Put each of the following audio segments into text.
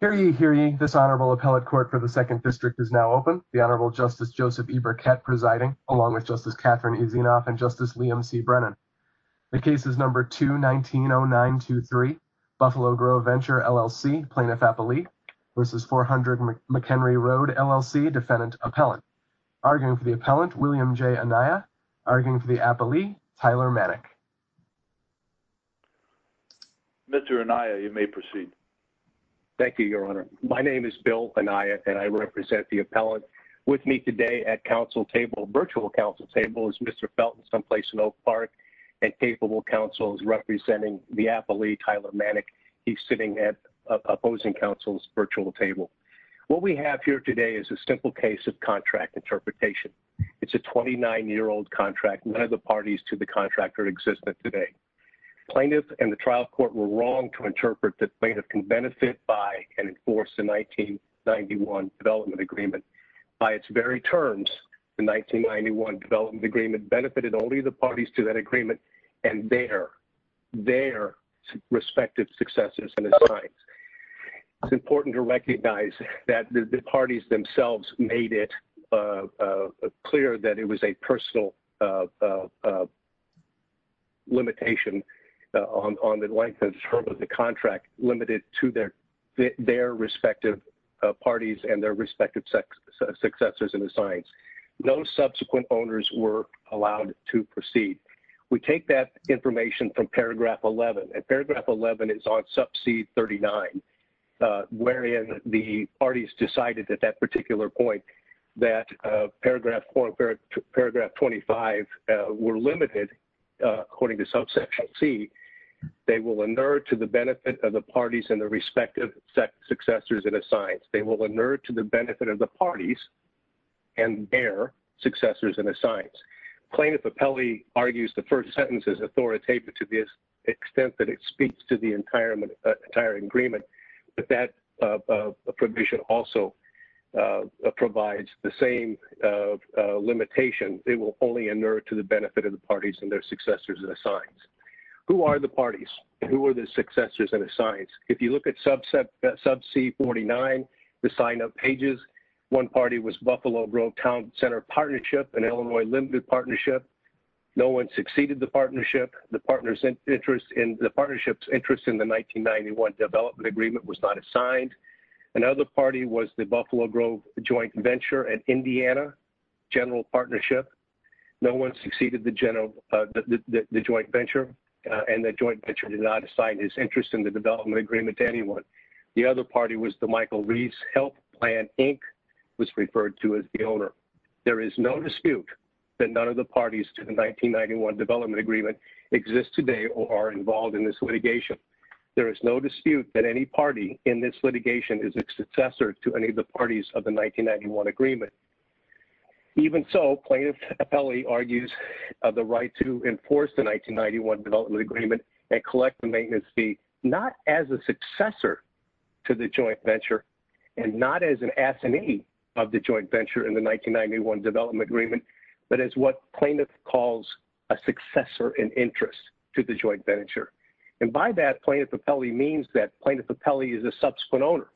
Hear ye, hear ye, this Honorable Appellate Court for the 2nd District is now open. The Honorable Justice Joseph E. Burkett presiding, along with Justice Catherine E. Zinoff and Justice Liam C. Brennan. The case is number 2-19-09-23, Buffalo Grove Venture, LLC, Plaintiff-Appellee v. 400 McHenry Road, LLC, Defendant-Appellant. Arguing for the Appellant, William J. Anaya. Arguing for the Appellee, Tyler Manick. Mr. Anaya, you may proceed. Thank you, Your Honor. My name is Bill Anaya, and I represent the Appellant. With me today at Council table, virtual Council table, is Mr. Felton, someplace in Oak Park, and capable Counselors representing the Appellee, Tyler Manick. He's sitting at opposing Counsel's virtual table. What we have here today is a simple case of contract interpretation. It's a 29-year-old contract. None of the parties to the contract are existent today. Plaintiff and the trial court were wrong to interpret that Plaintiff can benefit by and enforce the 1991 Development Agreement. By its very terms, the 1991 Development Agreement benefited only the parties to that agreement and their, their respective successors and assigns. It's important to recognize that the parties themselves made it clear that it was a personal limitation on the length of the term of the contract, limited to their, their respective parties and their respective successors and assigns. No subsequent owners were allowed to proceed. We take that information from paragraph 11. And paragraph 11 is on sub-c 39, wherein the parties decided at that particular point that paragraph, paragraph 25 were limited, according to subsection C, they will inert to the benefit of the parties and their respective successors and assigns. They will inert to the benefit of the parties and their successors and assigns. Plaintiff appellee argues the first sentence is authoritative to the extent that it speaks to the entire, entire agreement, but that provision also provides the same limitation. It will only inert to the benefit of the parties and their successors and assigns. Who are the parties? Who are the successors and assigns? If you look at sub-c 49, the sign-up pages, one party was Buffalo Grove Town Center Partnership and Illinois Limited Partnership. No one succeeded the partnership. The partnership's interest in the 1991 development agreement was not assigned. Another party was the Buffalo Grove Joint Venture and Indiana General Partnership. No one succeeded the joint venture, and the joint venture did not assign its interest in the development agreement to anyone. The other party was the Michael Reeves Health Plan, Inc., was referred to as the owner. There is no dispute that none of the parties to the 1991 development agreement exist today or are involved in this litigation. There is no dispute that any party in this litigation is a successor to any of the parties of the 1991 agreement. Even so, plaintiff appellee argues the right to enforce the 1991 development agreement and collect the maintenance fee not as a successor to the joint venture and not as an assignee of the joint venture in the 1991 development agreement, but as what plaintiff calls a successor in interest to the joint venture. By that, plaintiff appellee means that plaintiff appellee is a subsequent owner.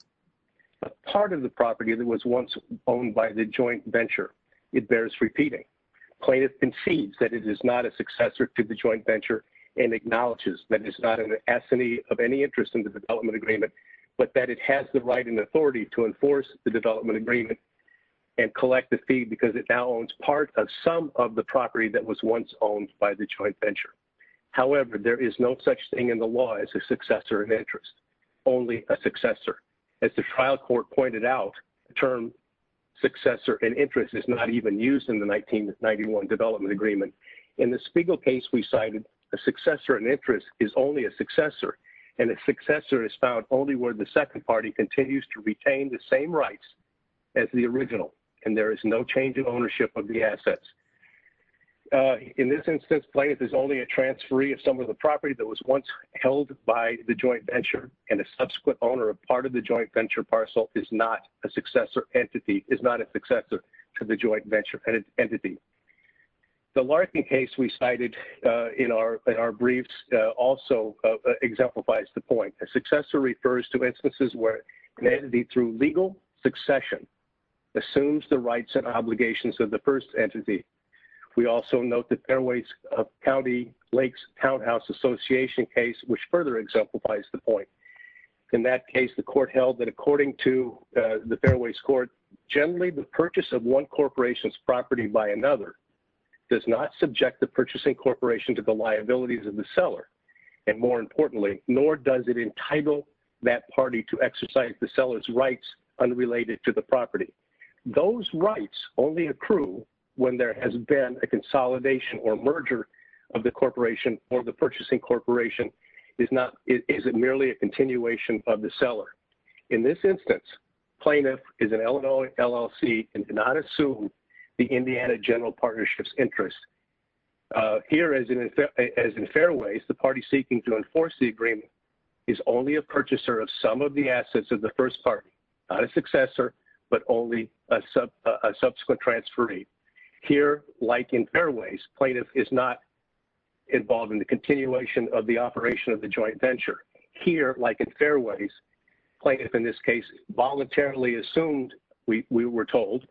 Part of the property that was once owned by the joint venture, it bears repeating. Plaintiff concedes that it is not a successor to the joint venture and acknowledges that it's not an assignee of any interest in the development agreement, but that it has the right and authority to enforce the development agreement and collect the fee because it now owns part of some of the property that was once owned by the joint venture. However, there is no such thing in the law as a successor in interest. Only a successor. As the trial court pointed out, the term successor in interest is not even used in the 1991 development agreement. In the Spiegel case we cited, a successor in interest is only a successor, and a successor is found only where the second party continues to retain the same rights as the original, and there is no change in ownership of the assets. In this instance, plaintiff is only a transferee of some of the property that was once held by the joint venture, and a subsequent owner of part of the joint venture parcel is not a successor entity, is not a successor to the joint venture entity. The Larkin case we cited in our briefs also exemplifies the point. A successor refers to instances where an entity through legal succession assumes the rights and obligations of the first entity. We also note the Fairways County Lakes Townhouse Association case, which further exemplifies the point. In that case, the court held that according to the Fairways court, generally the purchase of one corporation's property by another does not subject the purchasing corporation to the liabilities of the seller, and more importantly, nor does it entitle that party to exercise the seller's rights unrelated to the property. Those rights only accrue when there has been a consolidation or merger of the corporation or the purchasing corporation, is it merely a continuation of the seller. In this instance, plaintiff is an Illinois LLC and did not assume the Indiana General Partnership's interest. Here as in Fairways, the party seeking to enforce the agreement is only a purchaser of some of the assets of the first party, not a successor, but only a subsequent transferee. Here, like in Fairways, plaintiff is not involved in the continuation of the operation of the joint venture. Here, like in Fairways, plaintiff in this case voluntarily assumed, we were told,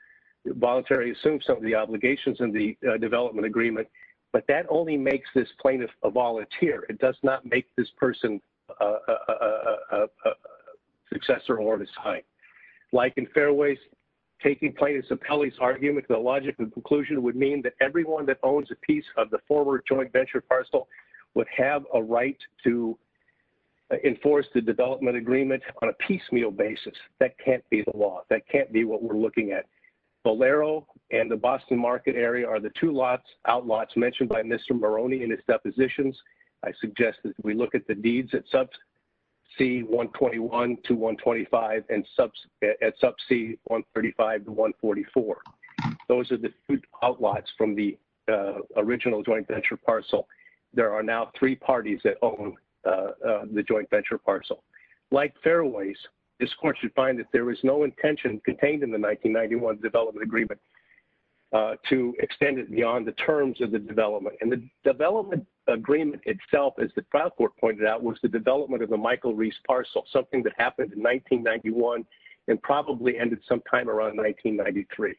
voluntarily assumed some of the obligations in the development agreement, but that only makes this plaintiff a volunteer. It does not make this person a successor or a sign. Like in Fairways, taking plaintiff's appellee's argument to the logic of the conclusion would mean that everyone that owns a piece of the former joint venture parcel would have a right to enforce the development agreement on a piecemeal basis. That can't be the law. That can't be what we're looking at. Bolero and the Boston market area are the two outlots mentioned by Mr. Maroney in his depositions. I suggest that we look at the deeds at sub C-121 to 125 and at sub C-135 to 144. Those are the two outlots from the original joint venture parcel. There are now three parties that own the joint venture parcel. Like Fairways, this court should find that there is no intention contained in the 1991 development agreement to extend it beyond the terms of the development. And the development agreement itself, as the trial court pointed out, was the development of the Michael Reese parcel, something that happened in 1991 and probably ended sometime around 1993.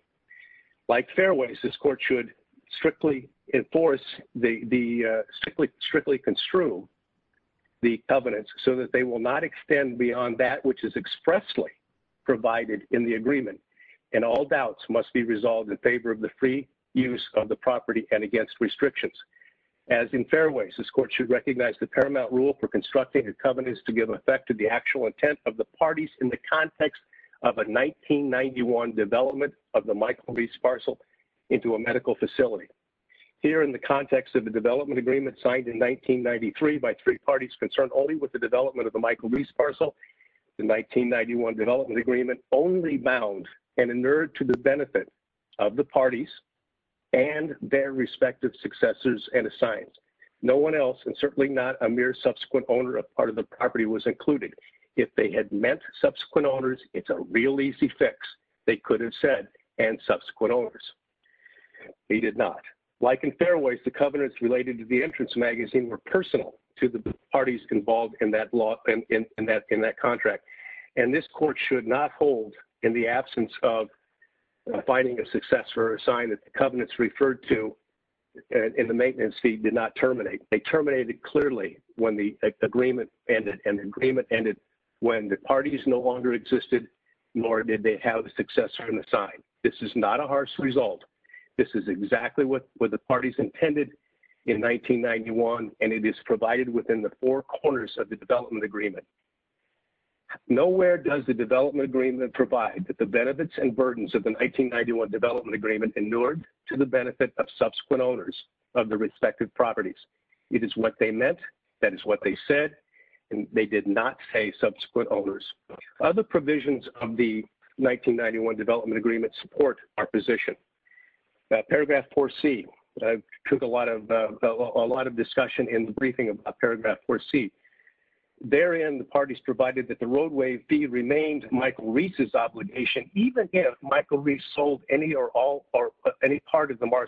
Like Fairways, this court should strictly enforce the strictly construe the covenants so that they will not extend beyond that which is expressly provided in the agreement. And all doubts must be resolved in favor of the free use of the property and against restrictions. As in Fairways, this court should recognize the paramount rule for constructing the covenants to give effect to the actual intent of the parties in the context of a 1991 development of the Michael Reese parcel into a medical facility. Here in the context of the development agreement signed in 1993 by three parties concerned only with the development of the Michael Reese parcel, the 1991 development agreement only bound and inured to the benefit of the parties and their respective successors and assigned. No one else and certainly not a mere subsequent owner of part of the property was included. If they had meant subsequent owners, it's a real easy fix. They could have said and subsequent owners. They did not. Like in Fairways, the covenants related to the entrance magazine were personal to the parties involved in that contract. And this court should not hold in the absence of finding a success for a sign that the covenants referred to in the maintenance fee did not terminate. They terminated clearly when the agreement ended and the agreement ended when the parties no longer existed nor did they have a successor in the sign. This is not a harsh result. This is exactly what the parties intended in 1991 and it is provided within the four corners of the development agreement. Nowhere does the development agreement provide that the benefits and burdens of the 1991 development agreement inured to the benefit of subsequent owners of the respective properties. It is what they meant. That is what they said. They did not say subsequent owners. Other provisions of the 1991 development agreement support our position. Paragraph 4C. I took a lot of discussion in the briefing about paragraph 4C. Therein the parties provided that the roadway fee remained Michael Reese's obligation even if Michael Reese sold any or all or any part of the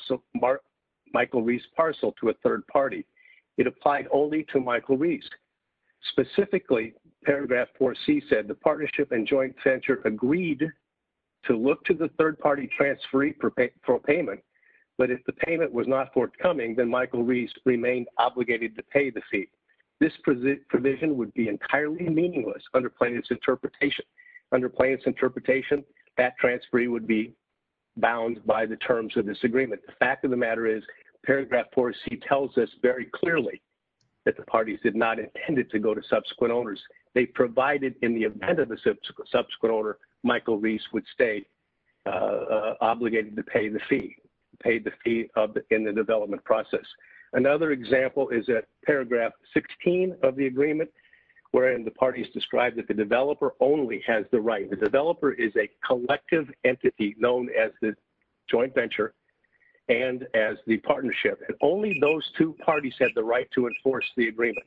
Michael Reese parcel to a third party. It applied only to Michael Reese. Specifically paragraph 4C said the partnership and joint venture agreed to look to the third party transferee for payment, but if the payment was not forthcoming, then Michael Reese remained obligated to pay the fee. This provision would be entirely meaningless under plaintiff's interpretation. Under plaintiff's interpretation, that transferee would be bound by the terms of this agreement. The fact of the matter is paragraph 4C tells us very clearly that the parties did not intend it to go to subsequent owners. They provided in the event of a subsequent owner, Michael Reese would stay obligated to pay the fee, pay the fee in the development process. Another example is that paragraph 16 of the agreement wherein the parties described that the developer only has the right. The developer is a collective entity known as the joint venture and as the partnership. Only those two parties have the right to enforce the agreement.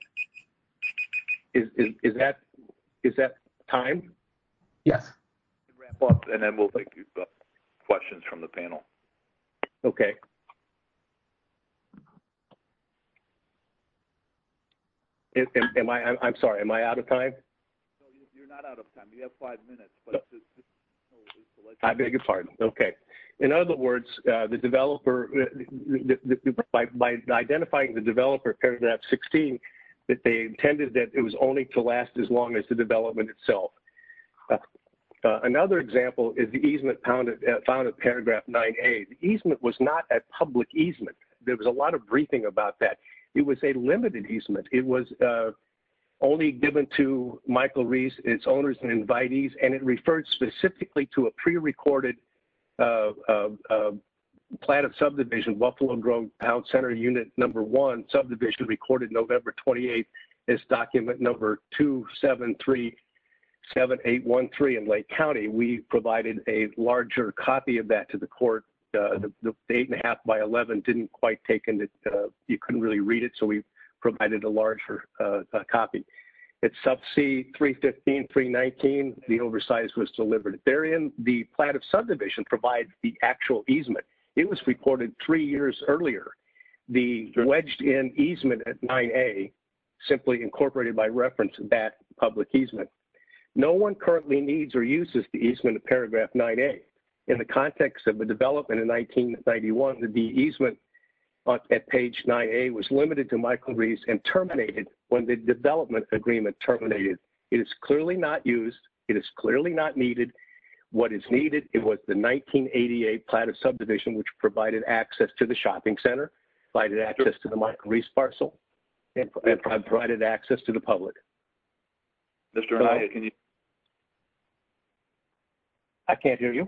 Is that time? Yes. We'll wrap up and then we'll take questions from the panel. Okay. I'm sorry, am I out of time? You're not out of time. You have five minutes. I beg your pardon. Okay. In other words, the developer, by identifying the developer paragraph 16, that they intended that it was only to last as long as the development itself. Another example is the easement found in paragraph 9A. The easement was not a public easement. There was a lot of briefing about that. It was a limited easement. It was only given to Michael Reese, its owners and invitees, and it referred specifically to a prerecorded plan of subdivision, Buffalo Grove Pound Center Unit Number 1, subdivision recorded November 28th as document number 2737813 in Lake County. We provided a larger copy of that to the court, the eight and a half by 11 didn't quite take it, and you couldn't really read it, so we provided a larger copy. It's sub C 315, 319, the oversize was delivered. Therein, the plan of subdivision provides the actual easement. It was reported three years earlier. The wedged in easement at 9A simply incorporated by reference that public easement. No one currently needs or uses the easement of paragraph 9A. In the context of the development in 1991, the de-easement at page 9A was limited to Michael Reese and terminated when the development agreement terminated. It is clearly not used. It is clearly not needed. What is needed, it was the 1988 plan of subdivision which provided access to the shopping center, provided access to the Michael Reese parcel, and provided access to the public. Mr. Anaya, can you hear me? I can't hear you.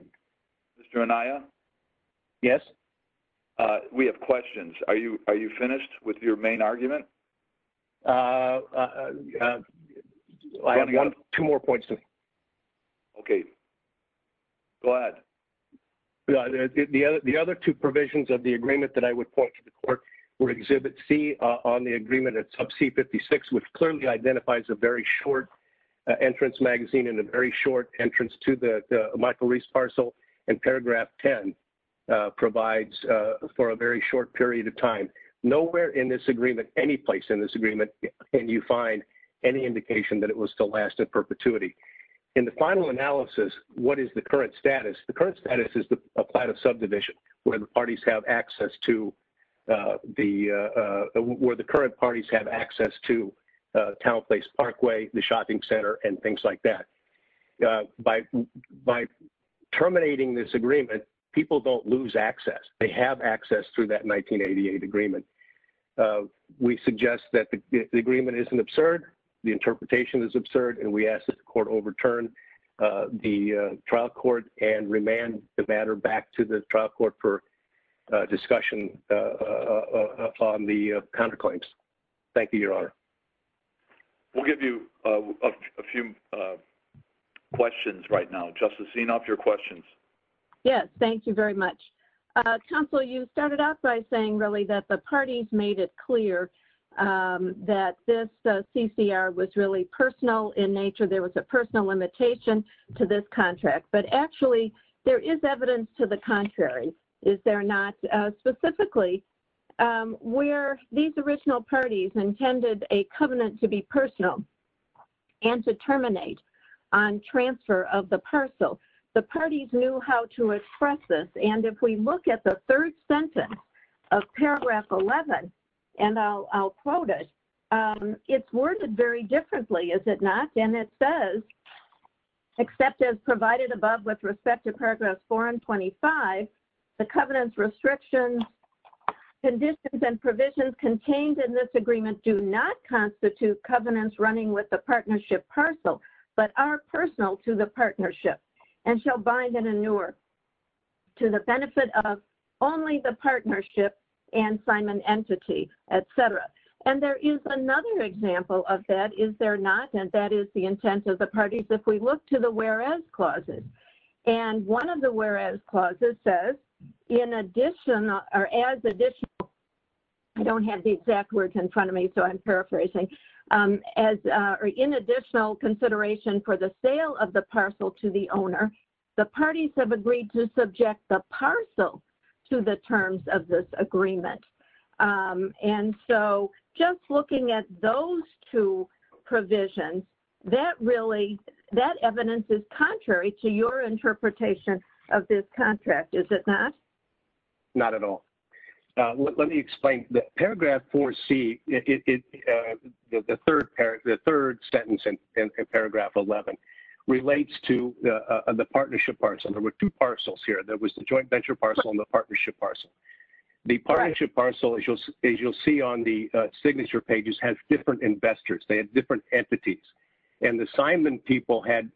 Mr. Anaya? Yes? We have questions. Are you finished with your main argument? I have two more points to make. Okay. Go ahead. The other two provisions of the agreement that I would point to the court were Exhibit C on the agreement of C56 which clearly identifies a very short entrance magazine and a very short entrance to the Michael Reese parcel and paragraph 10 provides for a very short period of time. Nowhere in this agreement, any place in this agreement can you find any indication that it was to last in perpetuity. In the final analysis, what is the current status? The current status is to apply to subdivision where the parties have access to the, where the current parties have access to Town Place Parkway, the shopping center, and things like that. By terminating this agreement, people don't lose access. They have access through that 1988 agreement. We suggest that the agreement isn't absurd, the interpretation is absurd, and we ask that the trial court and remand the matter back to the trial court for discussion on the counterclaims. Thank you, Your Honor. We'll give you a few questions right now. Justice Zinoff, your questions. Yes. Thank you very much. Counsel, you started out by saying really that the parties made it clear that this CCR was really personal in nature. There was a personal limitation to this contract, but actually there is evidence to the contrary. Is there not? Specifically, where these original parties intended a covenant to be personal and to terminate on transfer of the parcel, the parties knew how to express this. And if we look at the third sentence of paragraph 11, and I'll quote it, it's worded very differently, is it not? And it says, except as provided above with respect to paragraph 4 and 25, the covenant's restrictions, conditions, and provisions contained in this agreement do not constitute covenants running with the partnership parcel, but are personal to the partnership and shall bind an inure to the benefit of only the partnership and signment entity, et cetera. And there is another example of that. Is there not? And that is the intent of the parties. If we look to the whereas clauses. And one of the whereas clauses says, in addition or as additional, I don't have the exact words in front of me, so I'm paraphrasing, in additional consideration for the sale of the parcel to the owner, the parties have agreed to subject the parcel to the terms of this agreement. And so just looking at those two provisions, that really, that evidence is contrary to your interpretation of this contract, is it not? Not at all. Let me explain. Paragraph 4C, the third sentence in paragraph 11 relates to the partnership parcel. There were two parcels here. There was the joint venture parcel and the partnership parcel. The partnership parcel, as you'll see on the signature pages, had different investors. They had different entities. And the signment people had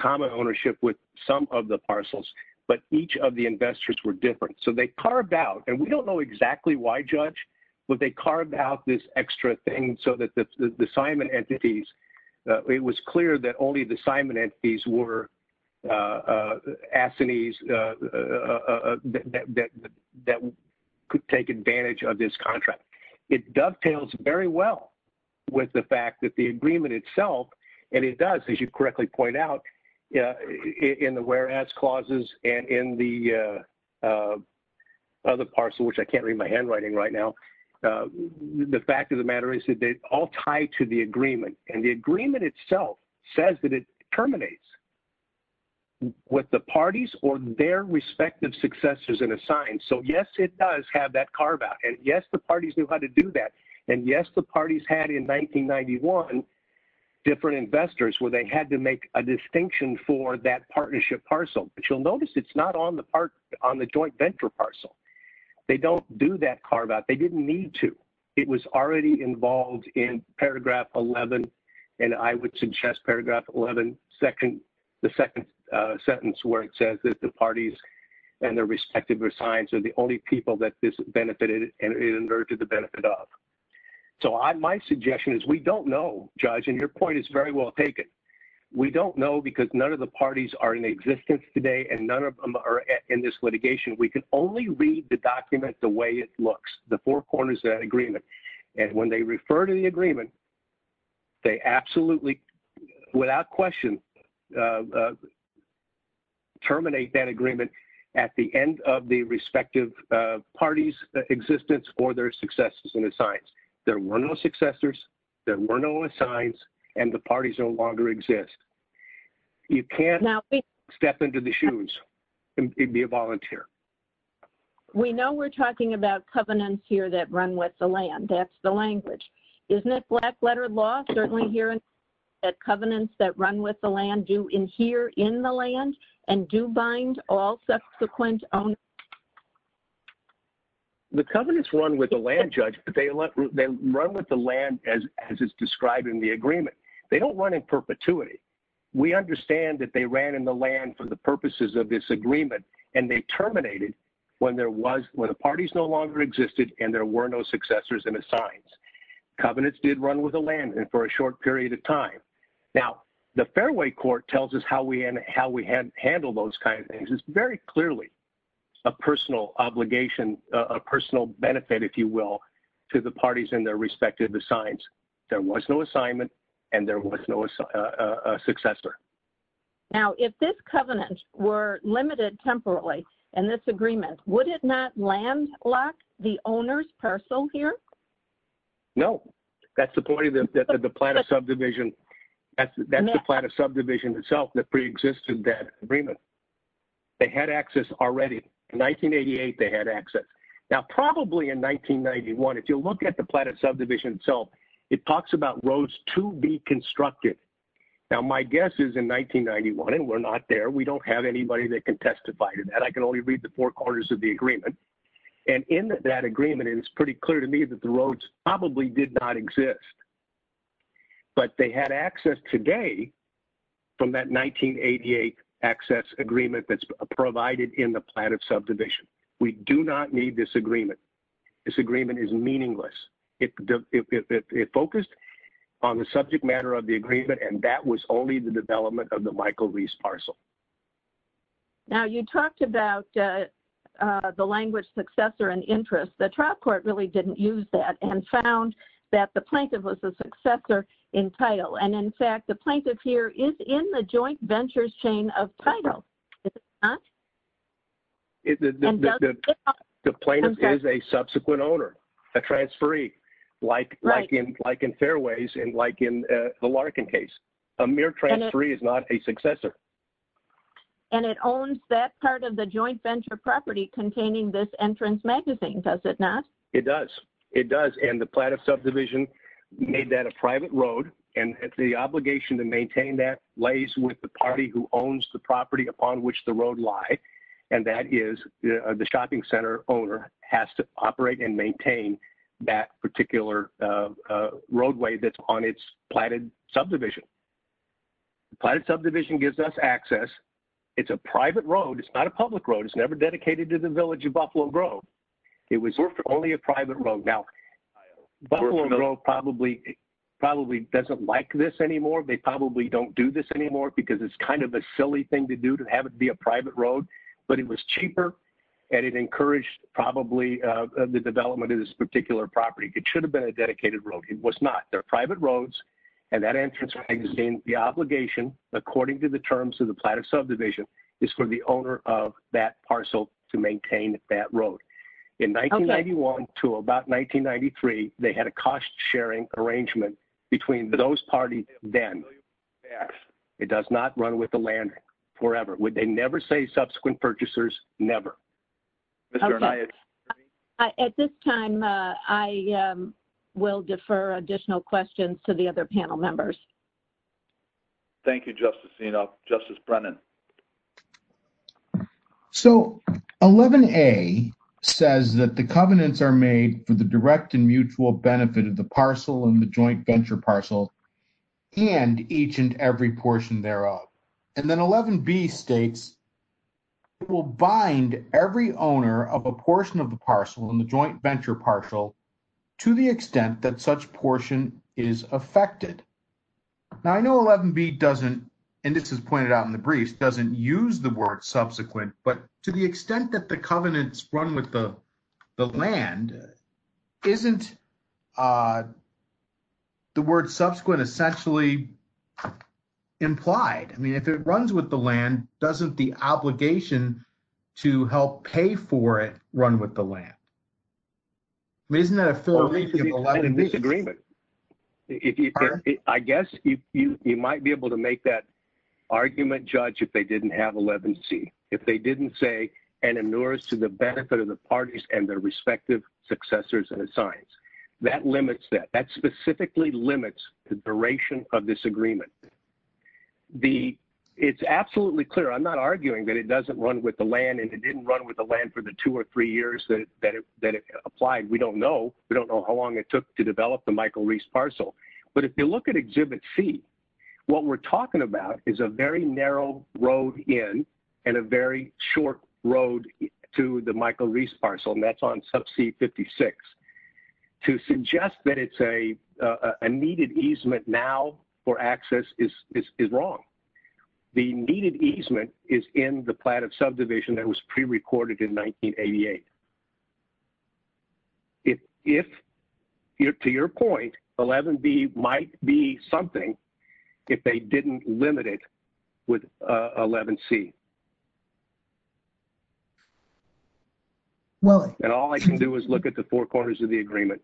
common ownership with some of the parcels, but each of the investors were different. So they carved out, and we don't know exactly why, Judge, but they carved out this extra thing so that the signment entities, it was clear that only the signment entities were assinees that could take advantage of this contract. It dovetails very well with the fact that the agreement itself, and it does, as you correctly point out, in the whereas clauses and in the other parcel, which I can't read my handwriting right now, the fact of the matter is that they all tie to the agreement. And the agreement itself says that it terminates with the parties or their respective successors in a sign. So yes, it does have that carve out. And yes, the parties knew how to do that. And yes, the parties had in 1991 different investors where they had to make a distinction for that partnership parcel. But you'll notice it's not on the joint venture parcel. They don't do that carve out. They didn't need to. It was already involved in Paragraph 11, and I would suggest Paragraph 11, the second sentence where it says that the parties and their respective signs are the only people that this benefited and it inverted the benefit of. So my suggestion is we don't know, Judge, and your point is very well taken. We don't know because none of the parties are in existence today and none of them are in this litigation. We can only read the document the way it looks. The four corners of that agreement. And when they refer to the agreement, they absolutely, without question, terminate that agreement at the end of the respective parties' existence or their successors in a sign. There were no successors. There were no signs. And the parties no longer exist. You can't step into the shoes and be a volunteer. We know we're talking about covenants here that run with the land. That's the language. Isn't it black-lettered law certainly here that covenants that run with the land do adhere in the land and do bind all subsequent owners? The covenants run with the land, Judge, but they run with the land as it's described in the agreement. They don't run in perpetuity. We understand that they ran in the land for the purposes of this agreement and they terminated when the parties no longer existed and there were no successors in a sign. Covenants did run with the land for a short period of time. Now, the fairway court tells us how we handle those kinds of things. It's very clearly a personal obligation, a personal benefit, if you will, to the parties in their respective signs. There was no assignment and there was no successor. Now, if this covenant were limited temporarily in this agreement, would it not landlock the owner's parcel here? No. That's the point of the Platte of Subdivision. That's the Platte of Subdivision itself that preexisted that agreement. They had access already. In 1988, they had access. Now, probably in 1991, if you look at the Platte of Subdivision itself, it talks about roads to be constructed. Now, my guess is in 1991, and we're not there, we don't have anybody that can testify to that. I can only read the four corners of the agreement. And in that agreement, and it's pretty clear to me that the roads probably did not exist, but they had access today from that 1988 access agreement that's provided in the Platte of Subdivision. We do not need this agreement. This agreement is meaningless. It focused on the subject matter of the agreement, and that was only the development of the Michael Reese parcel. Now, you talked about the language successor and interest. The trial court really didn't use that and found that the plaintiff was the successor in title. And in fact, the plaintiff here is in the joint ventures chain of title. Is it not? The plaintiff is a subsequent owner, a transferee, like in Fairways and like in the Larkin case. A mere transferee is not a successor. And it owns that part of the joint venture property containing this entrance magazine, does it not? It does. It does. And the Platte of Subdivision made that a private road, and the obligation to maintain that lays with the party who owns the property upon which the road lie, and that is the shopping center owner has to operate and maintain that particular roadway that's on its Platte of Subdivision. Platte of Subdivision gives us access. It's a private road. It's not a public road. It's never dedicated to the village of Buffalo Grove. It was only a private road. Now, Buffalo Grove probably doesn't like this anymore. They probably don't do this anymore because it's kind of a silly thing to do to have it be a private road, but it was cheaper, and it encouraged probably the development of this particular property. It should have been a dedicated road. It was not. They're private roads, and that entrance magazine, the obligation, according to the terms of the Platte of Subdivision, is for the owner of that parcel to maintain that road. In 1991 to about 1993, they had a cost-sharing arrangement between those parties then and now. It does not run with the land forever. Would they never say subsequent purchasers? Never. Okay. At this time, I will defer additional questions to the other panel members. Thank you, Justice Zinoff. Justice Brennan. So 11A says that the covenants are made for the direct and mutual benefit of the parcel and the joint venture parcel and each and every portion thereof. And then 11B states it will bind every owner of a portion of the parcel and the joint venture parcel to the extent that such portion is affected. Now, I know 11B doesn't, and this is pointed out in the briefs, doesn't use the word subsequent, but to the extent that the covenants run with the land, isn't the word subsequent essentially implied? I mean, if it runs with the land, doesn't the obligation to help pay for it run with the land? I mean, isn't that a fair reason? It's a disagreement. I guess you might be able to make that argument, Judge, if they didn't have 11C. If they didn't say, to the benefit of the parties and their respective successors and assigns. That limits that. That specifically limits the duration of this agreement. It's absolutely clear. I'm not arguing that it doesn't run with the land and it didn't run with the land for the two or three years that it applied. We don't know. We don't know how long it took to develop the Michael Reese parcel. But if you look at Exhibit C, what we're talking about is a very narrow road in and a very short road to the Michael Reese parcel. That's on sub C56. To suggest that it's a needed easement now for access is wrong. The needed easement is in the plan of subdivision that was prerecorded in 1988. If, to your point, 11B might be something if they didn't limit it with 11C. All I can do is look at the four corners of the agreement.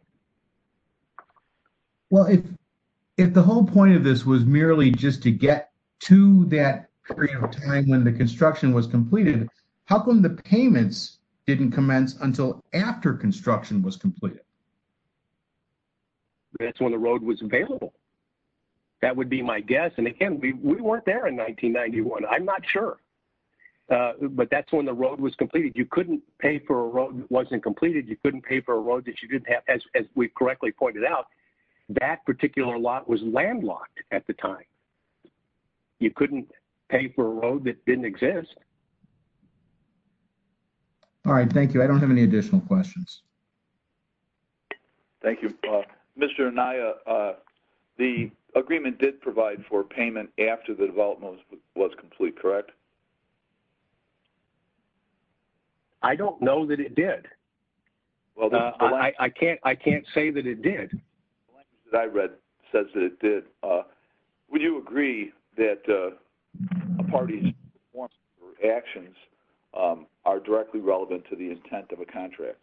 If the whole point of this was merely just to get to that period of time when the construction was completed, how come the payments didn't commence until after construction was completed? That's when the road was available. That would be my guess. Again, we weren't there in 1991. I'm not sure. But that's when the road was completed. You couldn't pay for a road that wasn't completed. You couldn't pay for a road that you didn't have. As we correctly pointed out, that particular lot was landlocked at the time. You couldn't pay for a road that didn't exist. All right. Thank you. I don't have any additional questions. Thank you. Mr. Anaya, the agreement did provide for payment after the development was complete, correct? I don't know that it did. I can't say that it did. The language that I read says that it did. Would you agree that a party's performance or actions are directly relevant to the intent of a contract?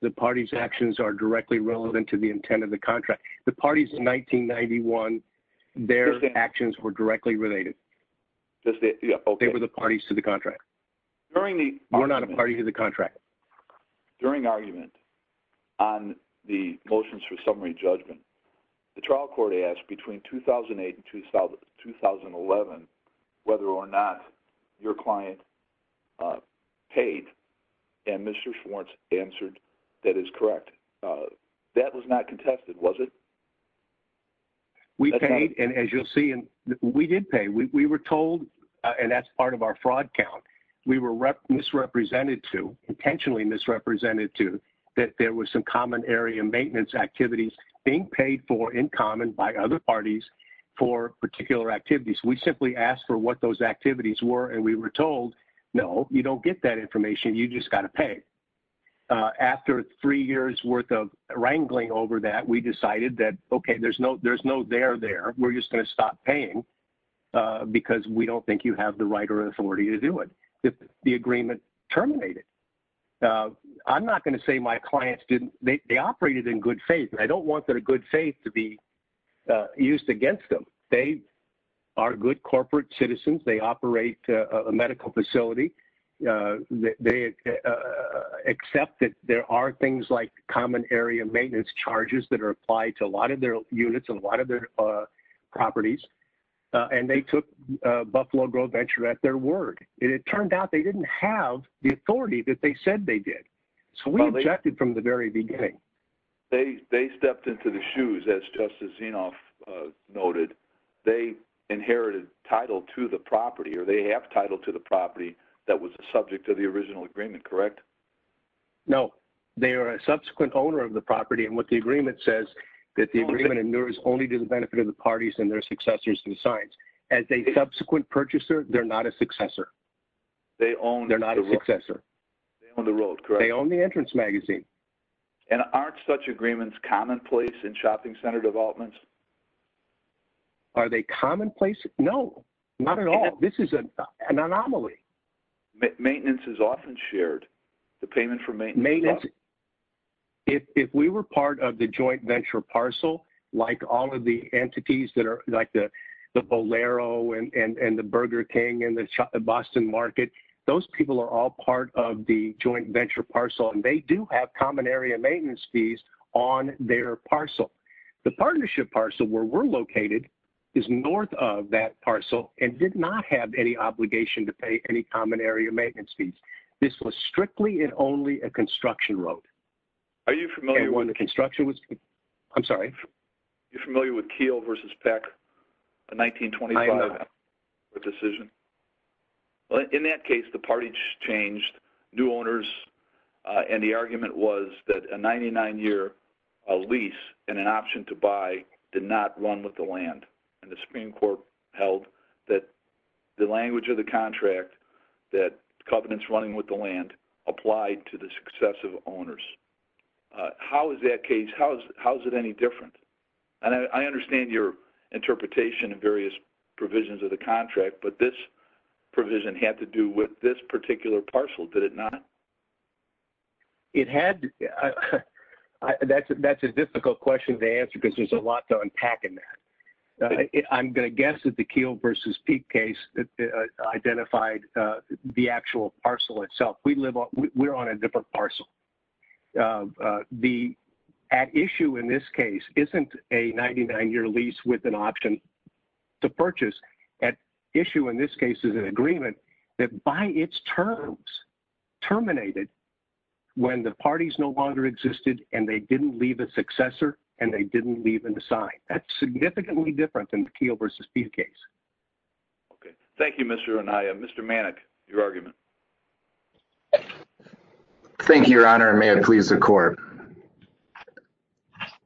The party's actions are directly relevant to the intent of the contract. The parties in 1991, their actions were directly related. They were the parties to the contract. We're not a party to the contract. During argument on the motions for summary judgment, the trial court asked between 2008 and 2011 whether or not your client paid. And Mr. Schwartz answered that is correct. That was not contested, was it? We paid. And as you'll see, we did pay. We were told, and that's part of our fraud count, we were misrepresented to, intentionally misrepresented to, that there was some common area maintenance activities being paid for in common by other parties for particular activities. We simply asked for what those activities were and we were told, no, you don't get that information. You just got to pay. After three years worth of wrangling over that, we decided that, okay, there's no there there. We're just going to stop paying because we don't think you have the right or authority to do it. The agreement terminated. I'm not going to say my clients didn't, they operated in good faith. I don't want their good faith to be used against them. They are good corporate citizens. They operate a medical facility. They accept that there are things like common area maintenance charges that are applied to a lot of their units and a lot of their properties. And they took Buffalo Grove Venture at their word. It turned out they didn't have the authority that they said they did. So we objected from the very beginning. They stepped into the shoes, as Justice Zinoff noted. They inherited title to the property or they have title to the property that was the subject of the original agreement, correct? No. They are a subsequent owner of the property and what the agreement says is that the agreement endures only to the benefit of the parties and their successors and signs. As a subsequent purchaser, they're not a successor. They're not a successor. They own the road, correct? And aren't such agreements commonplace in shopping center developments? Are they commonplace? No. Not at all. This is an anomaly. Maintenance is often shared. The payment for maintenance. If we were part of the joint venture parcel, like all of the entities that are like the Bolero and the Burger King and the Boston Market, those people are all part of the joint venture parcel. And they do have common area maintenance fees on their parcel. The partnership parcel where we're located is north of that parcel and did not have any obligation to pay any common area maintenance fees. This was strictly and only a construction road. Are you familiar with... I'm sorry? Are you familiar with Keel versus Peck, a 1925 decision? I am not. In that case, the parties changed. New owners. And the argument was that a 99-year lease and an option to buy did not run with the land. And the Supreme Court held that the language of the contract, that covenants running with the land, applied to the successive owners. How is that case... How is it any different? And I understand your interpretation of various provisions of the contract, but this provision had to do with this particular parcel, did it not? It had... That's a difficult question to answer because there's a lot to unpack in that. I'm going to guess that the Keel versus Peck case identified the actual parcel itself. We're on a different parcel. The at issue in this case isn't a 99-year lease with an option to purchase. At issue in this case is an agreement that by its terms terminated when the parties no longer existed and they didn't leave a successor and they didn't leave a sign. That's significantly different than the Keel versus Peck case. Okay. Thank you, Mr. Anaya. Mr. Manik, your argument. Thank you, Your Honor. May it please the court.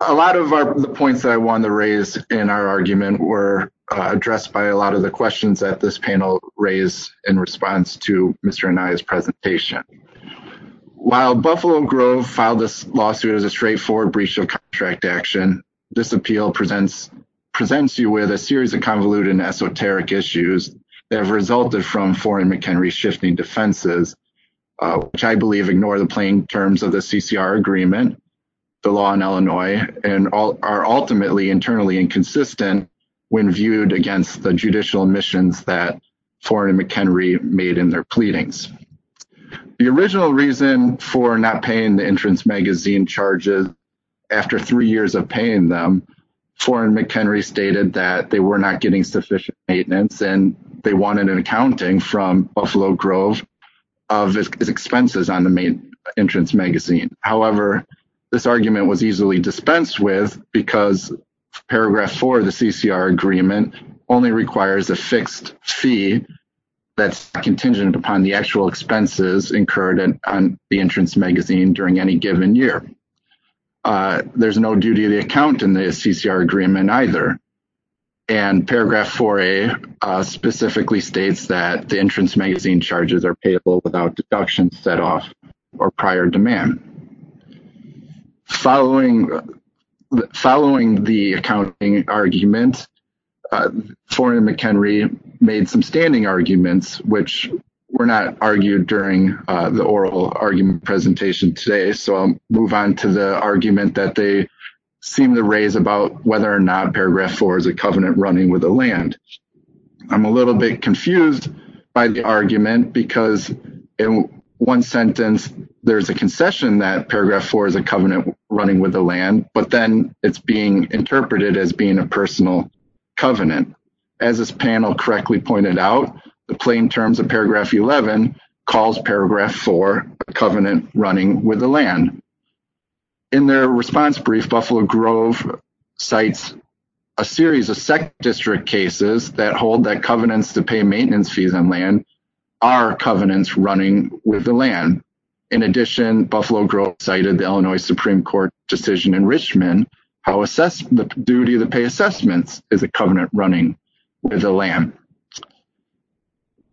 A lot of the points that I wanted to raise in our argument were addressed by a lot of the questions that this panel raised in response to Mr. Anaya's presentation. While Buffalo Grove filed this lawsuit as a straightforward breach of contract action, this appeal presents you with a series of convoluted and esoteric issues that have resulted from Foreign & McHenry's shifting defenses, which I believe ignore the plain terms of the CCR agreement, the law in Illinois, and are ultimately internally inconsistent when viewed against the judicial admissions that Foreign & McHenry made in their pleadings. The original reason for not paying the entrance magazine charges after three years of paying them, Foreign & McHenry stated that they were not getting sufficient maintenance and they wanted an accounting from Buffalo Grove of expenses on the main entrance magazine. However, this argument was easily dispensed with because Paragraph 4 of the CCR agreement only requires a fixed fee that's contingent upon the actual expenses incurred on the entrance magazine during any given year. There's no duty of the account in the CCR agreement either, and Paragraph 4A specifically states that the entrance magazine charges are payable without deductions set off or prior demand. Following the accounting argument, Foreign & McHenry made some standing arguments, which were not argued during the oral argument presentation today, so I'll move on to the argument that they seem to raise about whether or not Paragraph 4 is a covenant running with the land. I'm a little bit confused by the argument because in one sentence, there's a concession that Paragraph 4 is a covenant running with the land, but then it's being interpreted as being a personal covenant. As this panel correctly pointed out, the plain terms of Paragraph 11 calls Paragraph 4 a covenant running with the land. In their response brief, Buffalo Grove cites a series of SEC district cases that hold that covenants to pay maintenance fees on land are covenants running with the land. In addition, Buffalo Grove cited the Illinois Supreme Court decision in Richmond how the duty to pay assessments is a covenant running with the land.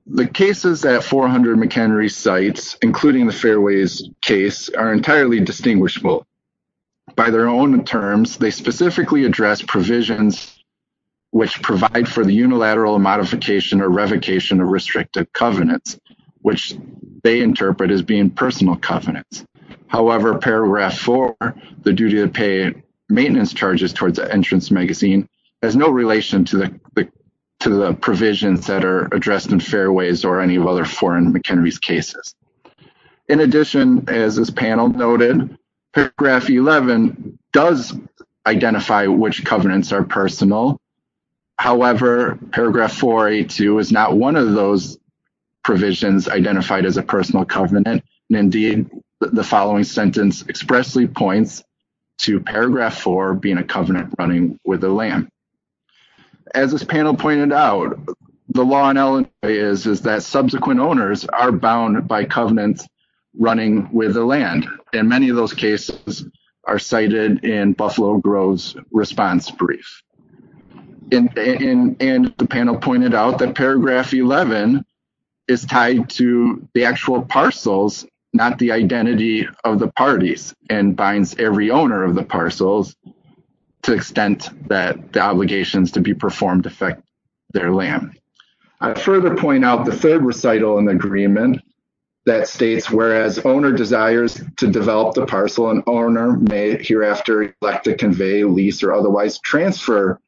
The cases at 400 McHenry sites, including the Fairways case, are entirely distinguishable. By their own terms, they specifically address provisions which provide for the unilateral modification or revocation of restricted covenants, which they interpret as being personal covenants. However, Paragraph 4, the duty to pay maintenance charges towards an entrance magazine, has no relation to the provisions that are addressed in Fairways or any of other 400 McHenry cases. In addition, as this panel noted, Paragraph 11 does identify which covenants are personal. However, Paragraph 4A2 is not one of those provisions identified as a personal covenant. Indeed, the following sentence expressly points to Paragraph 4 being a covenant running with the land. As this panel pointed out, the law in Illinois is that subsequent owners are bound by covenants running with the land. And many of those cases are cited in Buffalo Grove's response brief. And the panel pointed out that Paragraph 11 is tied to the actual parcels, not the identity of the parties, and binds every owner of the parcels to the extent that the obligations to be performed affect their land. I further point out the third recital in the agreement that states, whereas owner desires to develop the parcel, an owner may hereafter elect to convey, lease, or otherwise transfer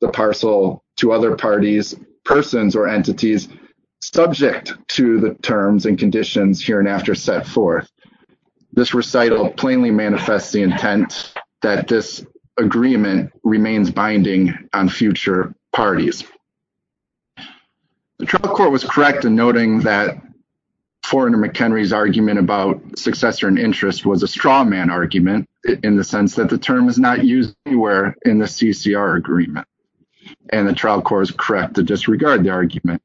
the parcel to other parties, persons, or entities subject to the terms and conditions here and after set forth. This recital plainly manifests the intent that this agreement remains binding on future parties. The trial court was correct in noting that Forerunner McHenry's argument about successor and interest was a straw man argument in the sense that the term is not used anywhere in the CCR agreement. And the trial court is correct to disregard the argument.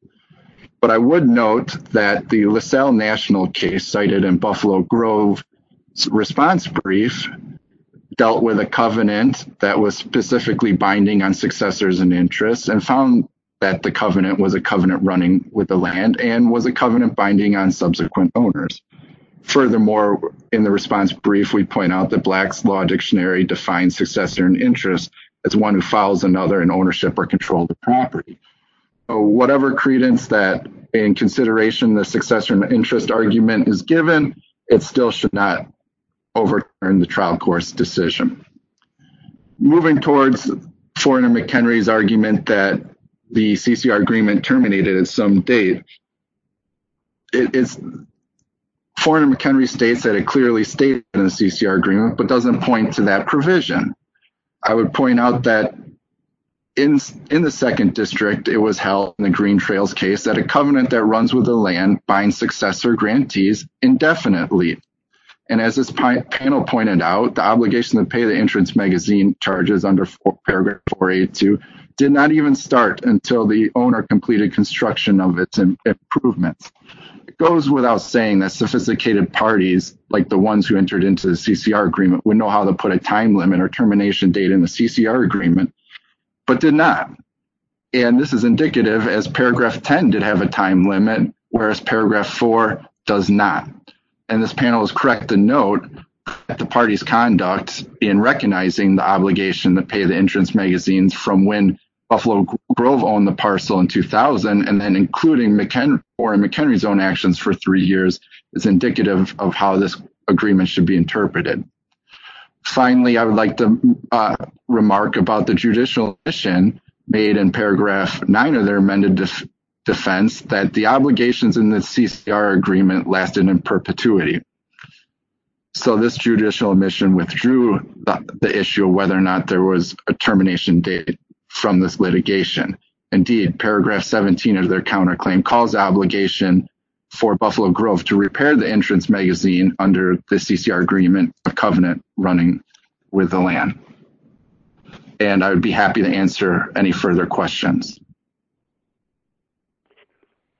But I would note that the LaSalle National case cited in Buffalo Grove's response brief dealt with a covenant that was specifically binding on successors and interest and found that the covenant was a covenant running with the land and was a covenant binding on subsequent owners. Furthermore, in the response brief, we point out that Black's Law Dictionary defines successor and interest as one who follows another in ownership or control of the property. Whatever credence that in consideration the successor and interest argument is given, it still should not overturn the trial court's decision. Moving towards Forerunner McHenry's argument that the CCR agreement terminated at some date, Forerunner McHenry states that it clearly stated in the CCR agreement but doesn't point to that provision. I would point out that in the second district, it was held in the Green Trails case that a covenant that runs with the land binds successor grantees indefinitely. And as this panel pointed out, the obligation to pay the entrance magazine charges under paragraph 482 did not even start until the owner completed construction of its improvements. It goes without saying that sophisticated parties, like the ones who entered into the CCR agreement, would know how to put a time limit or termination date in the CCR agreement, but did not. And this is indicative as paragraph 10 did have a time limit, whereas paragraph 4 does not. And this panel is correct to note that the party's conduct in recognizing the obligation to pay the entrance magazines from when Buffalo Grove owned the parcel in 2000 and then including McHenry's own actions for three years is indicative of how this agreement should be interpreted. Finally, I would like to remark about the judicial admission made in paragraph 9 of their amended defense that the obligations in the CCR agreement lasted in perpetuity. So this judicial admission withdrew the issue of whether or not there was a termination date from this litigation. Indeed, paragraph 17 of their counterclaim calls the obligation for Buffalo Grove to repair the entrance magazine under the CCR agreement, a covenant running with the land. And I would be happy to answer any further questions.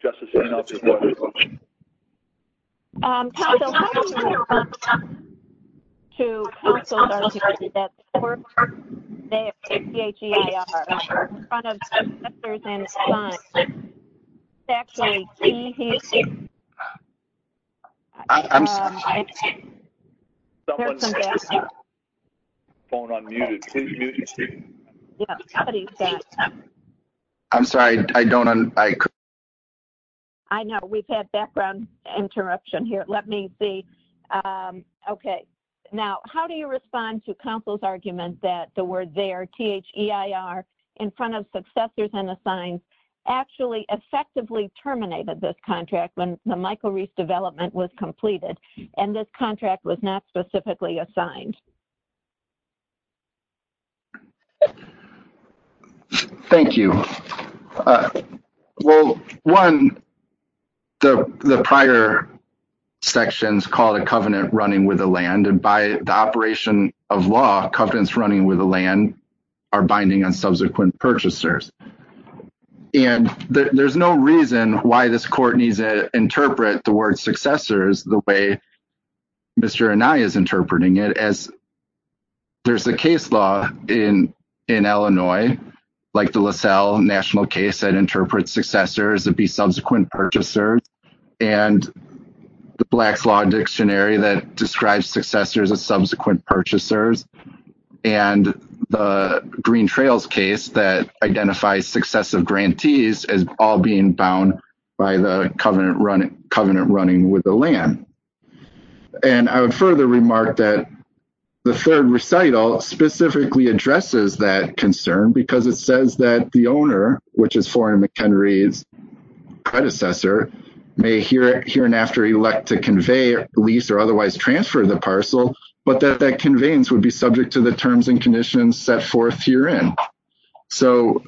Justice Reynolds has one more question. Counsel, how important is it to counsel judges that the court may have to take PHEI offerings in front of senators and clients? Is that actually key here? I'm sorry, I didn't hear you. Someone said this on the phone unmuted. Can you mute your speaker? Yeah, somebody said that. I'm sorry, I don't. I know we've had background interruption here. Let me see. Okay. Now, how do you respond to counsel's argument that the word there PHEIR in front of successors and assigned actually effectively terminated this contract when the Michael Reese development was completed and this contract was not specifically assigned? Thank you. Well, one, the prior sections called a covenant running with the land and by the operation of law, covenants running with the land are binding on subsequent purchasers. And there's no reason why this court needs to interpret the word successors the way Mr. Anaya is interpreting it as there's a case law in Illinois, like the LaSalle national case that interprets successors to be subsequent purchasers. And the Black's Law Dictionary that describes successors as subsequent purchasers. And the Green Trails case that identifies successive grantees as all being bound by the covenant running with the land. And I would further remark that the third recital specifically addresses that concern because it says that the owner, which is foreign McHenry's predecessor may hear it here and after elect to convey lease or otherwise transfer the parcel, but that that conveyance would be subject to the terms and conditions set forth herein. So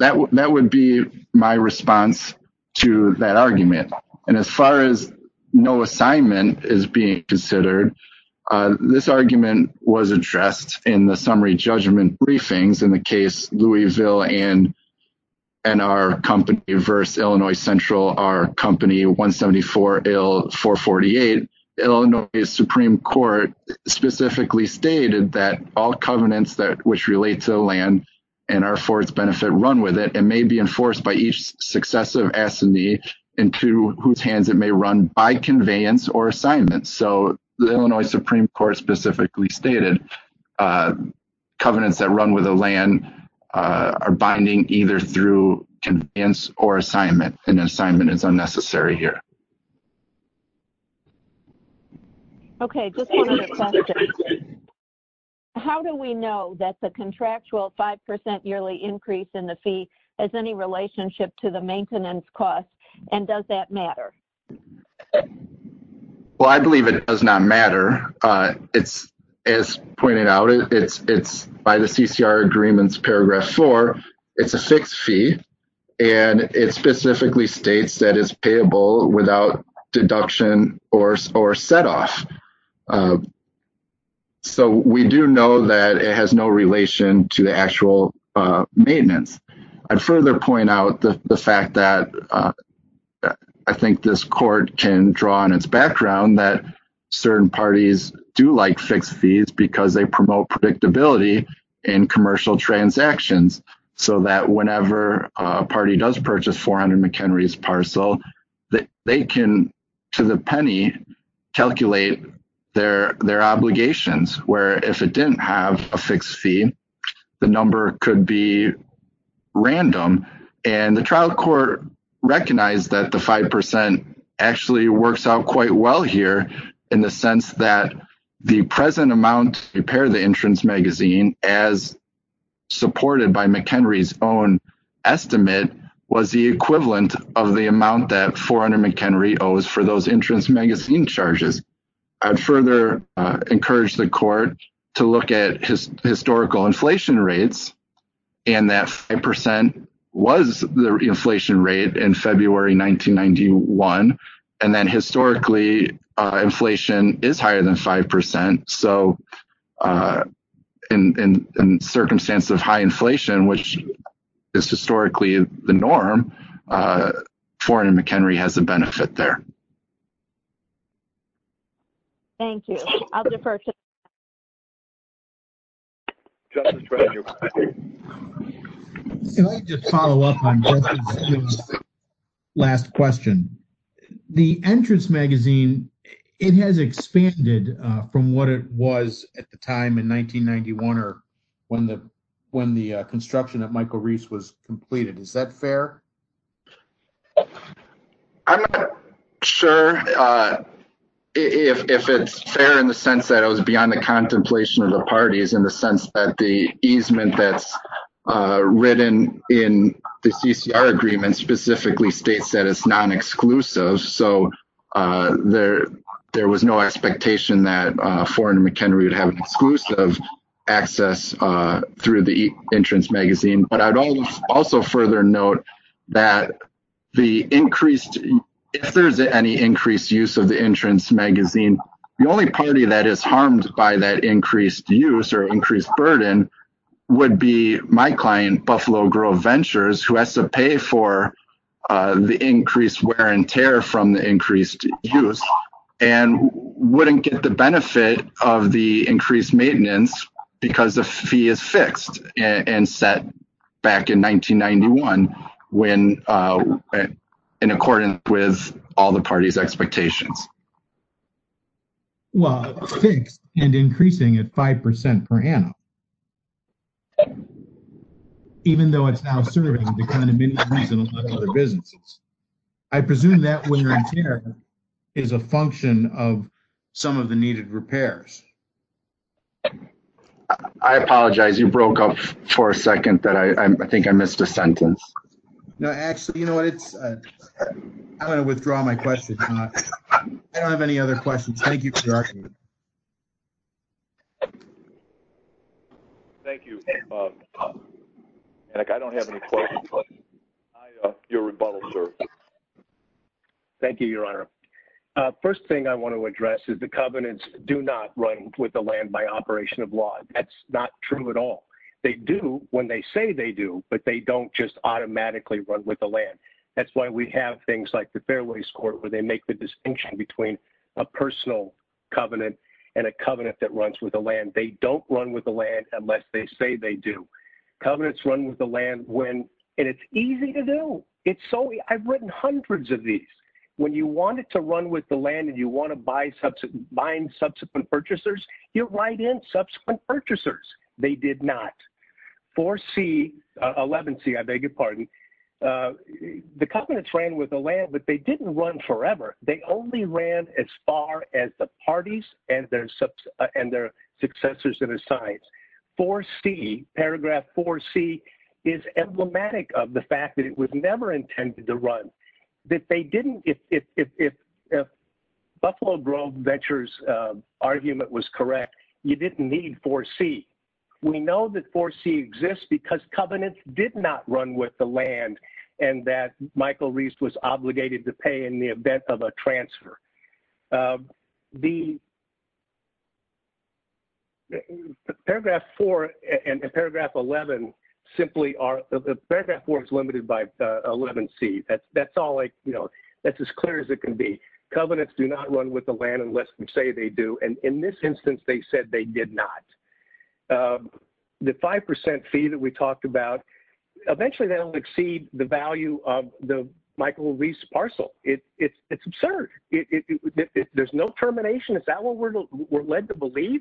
that would be my response to that argument. And as far as no assignment is being considered, this argument was addressed in the summary judgment briefings in the case Louisville and our company versus Illinois Central, our company, 174-448. And Illinois Supreme Court specifically stated that all covenants that which relate to the land and our forest benefit run with it and may be enforced by each successive assignee into whose hands it may run by conveyance or assignment. So, the Illinois Supreme Court specifically stated covenants that run with the land are binding either through conveyance or assignment and assignment is unnecessary here. Okay, just one other question. How do we know that the contractual 5% yearly increase in the fee has any relationship to the maintenance costs and does that matter? Well, I believe it does not matter. It's, as pointed out, it's by the CCR agreements, paragraph four. It's a fixed fee. And it specifically states that it's payable without deduction or set off. So, we do know that it has no relation to the actual maintenance. I'd further point out the fact that I think this court can draw on its background that certain parties do like fixed fees because they promote predictability in commercial transactions. So that whenever a party does purchase 400 McHenry's parcel, they can, to the penny, calculate their obligations. Where if it didn't have a fixed fee, the number could be random. And the trial court recognized that the 5% actually works out quite well here in the sense that the present amount to repair the entrance magazine, as supported by McHenry's own estimate, was the equivalent of the amount that 400 McHenry owes for those entrance magazine charges. I'd further encourage the court to look at historical inflation rates. And that 5% was the inflation rate in February 1991. And then historically, inflation is higher than 5%. So, in circumstances of high inflation, which is historically the norm, 400 McHenry has a benefit there. Thank you. I'll defer to. Can I just follow up on Justin's last question? The entrance magazine, it has expanded from what it was at the time in 1991 or when the construction of Michael Reese was completed. Is that fair? I'm not sure if it's fair in the sense that it was beyond the contemplation of the parties in the sense that the easement that's written in the CCR agreement specifically states that it's non-exclusive. So, there was no expectation that 400 McHenry would have exclusive access through the entrance magazine. But I'd also further note that if there's any increased use of the entrance magazine, the only party that is harmed by that increased use or increased burden would be my client, Buffalo Grove Ventures, who has to pay for the increased wear and tear from the increased use. And wouldn't get the benefit of the increased maintenance because the fee is fixed and set back in 1991 in accordance with all the parties' expectations. Well, fixed and increasing at 5% per annum. Even though it's now serving the kind of business. I presume that is a function of some of the needed repairs. I apologize. You broke up for a second that I think I missed a sentence. No, actually, you know what? It's I'm going to withdraw my question. I don't have any other questions. Thank you. Thank you. I don't have any questions. Thank you, Your Honor. First thing I want to address is the covenants do not run with the land by operation of law. That's not true at all. They do when they say they do, but they don't just automatically run with the land. That's why we have things like the Fairways Court where they make the distinction between a personal covenant and a covenant that runs with the land. They don't run with the land unless they say they do. Covenants run with the land when, and it's easy to do. I've written hundreds of these. When you want it to run with the land and you want to bind subsequent purchasers, you write in subsequent purchasers. They did not. 4C, 11C, I beg your pardon. The covenants ran with the land, but they didn't run forever. They only ran as far as the parties and their successors and their sides. 4C, paragraph 4C, is emblematic of the fact that it was never intended to run. That they didn't, if Buffalo Grove Ventures' argument was correct, you didn't need 4C. We know that 4C is not a covenant. 4C exists because covenants did not run with the land and that Michael Reist was obligated to pay in the event of a transfer. Paragraph 4 and paragraph 11 simply are, paragraph 4 is limited by 11C. That's as clear as it can be. Covenants do not run with the land unless they say they do. In this instance, they said they did not. The 5% fee that we talked about, eventually that will exceed the value of the Michael Reist parcel. It's absurd. There's no termination. Is that what we're led to believe?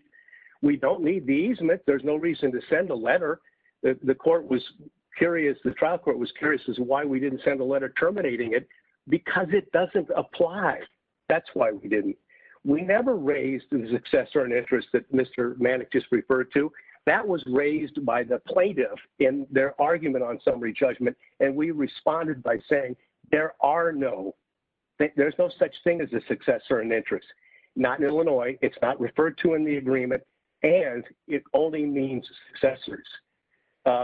We don't need the easement. There's no reason to send a letter. The trial court was curious as to why we didn't send a letter terminating it. Because it doesn't apply. That's why we didn't. We never raised a successor in interest that Mr. Manick just referred to. That was raised by the plaintiff in their argument on summary judgment. We responded by saying there are no, there's no such thing as a successor in interest. Not in Illinois. It's not referred to in the agreement. And it only means successors. To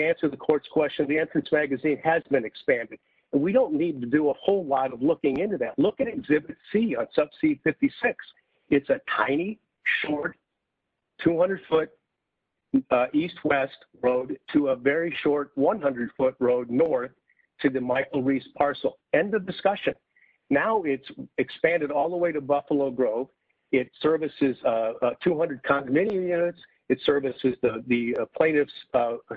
answer the court's question, the entrance magazine has been expanded. We don't need to do a whole lot of looking into that. Look at exhibit C on sub C56. It's a tiny, short, 200-foot east-west road to a very short 100-foot road north to the Michael Reist parcel. End of discussion. Now it's expanded all the way to Buffalo Grove. It services 200 condominium units. It services the plaintiff's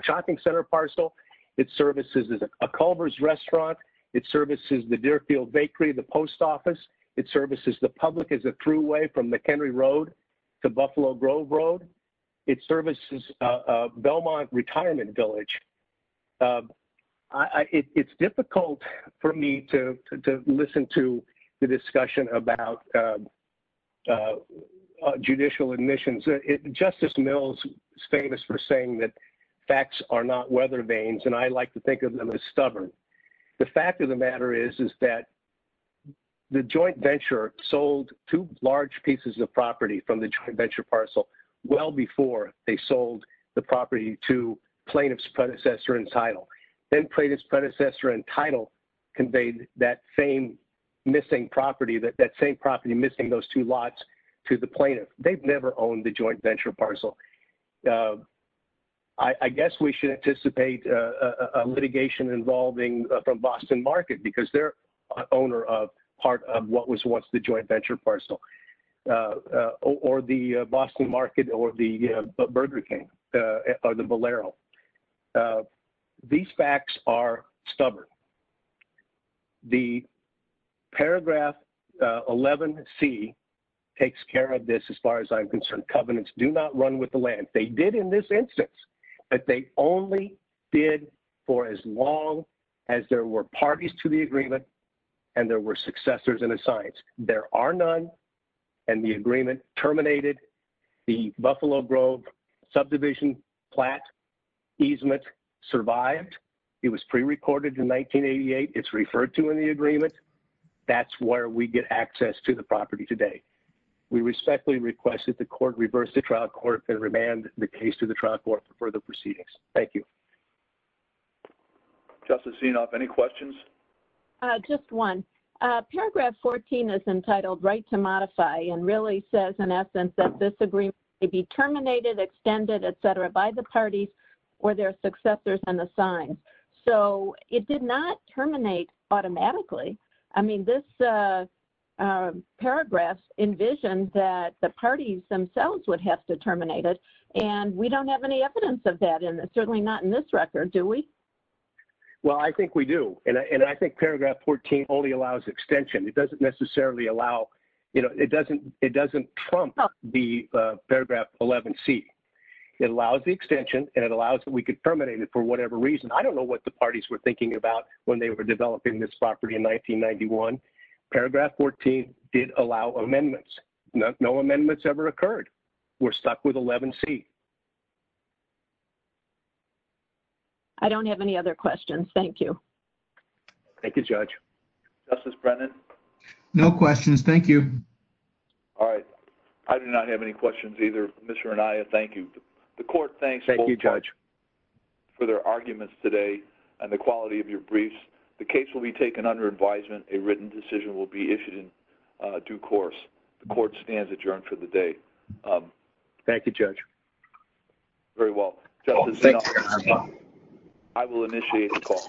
shopping center parcel. It services a Culver's restaurant. It services the Deerfield Bakery, the post office. It services the public as a thruway from McHenry Road to Buffalo Grove Road. It services Belmont Retirement Village. It's difficult for me to listen to the discussion about judicial admissions. Justice Mills is famous for saying that facts are not weather vanes. And I like to think of them as stubborn. The fact of the matter is that the joint venture sold two large pieces of property from the joint venture parcel well before they sold the property to plaintiff's predecessor and title. Then plaintiff's predecessor and title conveyed that same missing property, that same property missing those two lots to the plaintiff. They've never owned the joint venture parcel. I guess we should anticipate litigation involving from Boston Market because they're owner of part of what was once the joint venture parcel. Or the Boston Market or the Burger King or the Bolero. These facts are stubborn. The paragraph 11C takes care of this as far as I'm concerned. They did in this instance. But they only did for as long as there were parties to the agreement and there were successors in the science. There are none. And the agreement terminated. The Buffalo Grove subdivision flat easement survived. It was prerecorded in 1988. It's referred to in the agreement. That's where we get access to the property today. We respectfully request that the court reverse the trial court and remand the case to the trial court for further proceedings. Thank you. Justice Zinoff, any questions? Just one. Paragraph 14 is entitled right to modify and really says in essence that this agreement may be terminated, extended, et cetera, by the parties or their successors in the sign. So it did not terminate automatically. I mean, this paragraph envisioned that the parties themselves would have to terminate it. And we don't have any evidence of that. Certainly not in this record, do we? Well, I think we do. And I think paragraph 14 only allows extension. It doesn't necessarily allow, you know, it doesn't trump the paragraph 11C. It allows the extension and it allows that we could terminate it for whatever reason. I don't know what the parties were thinking about when they were developing this property in 1991. Paragraph 14 did allow amendments. No amendments ever occurred. We're stuck with 11C. I don't have any other questions. Thank you. Thank you, Judge. Justice Brennan? No questions. Thank you. All right. I do not have any questions either. Commissioner Anaya, thank you. Thank you, Judge. For their arguments today and the quality of your briefs. The case will be taken under advisement. A written decision will be issued in due course. The court stands adjourned for the day. Thank you, Judge. Very well. Thank you, Your Honor. I will initiate the call.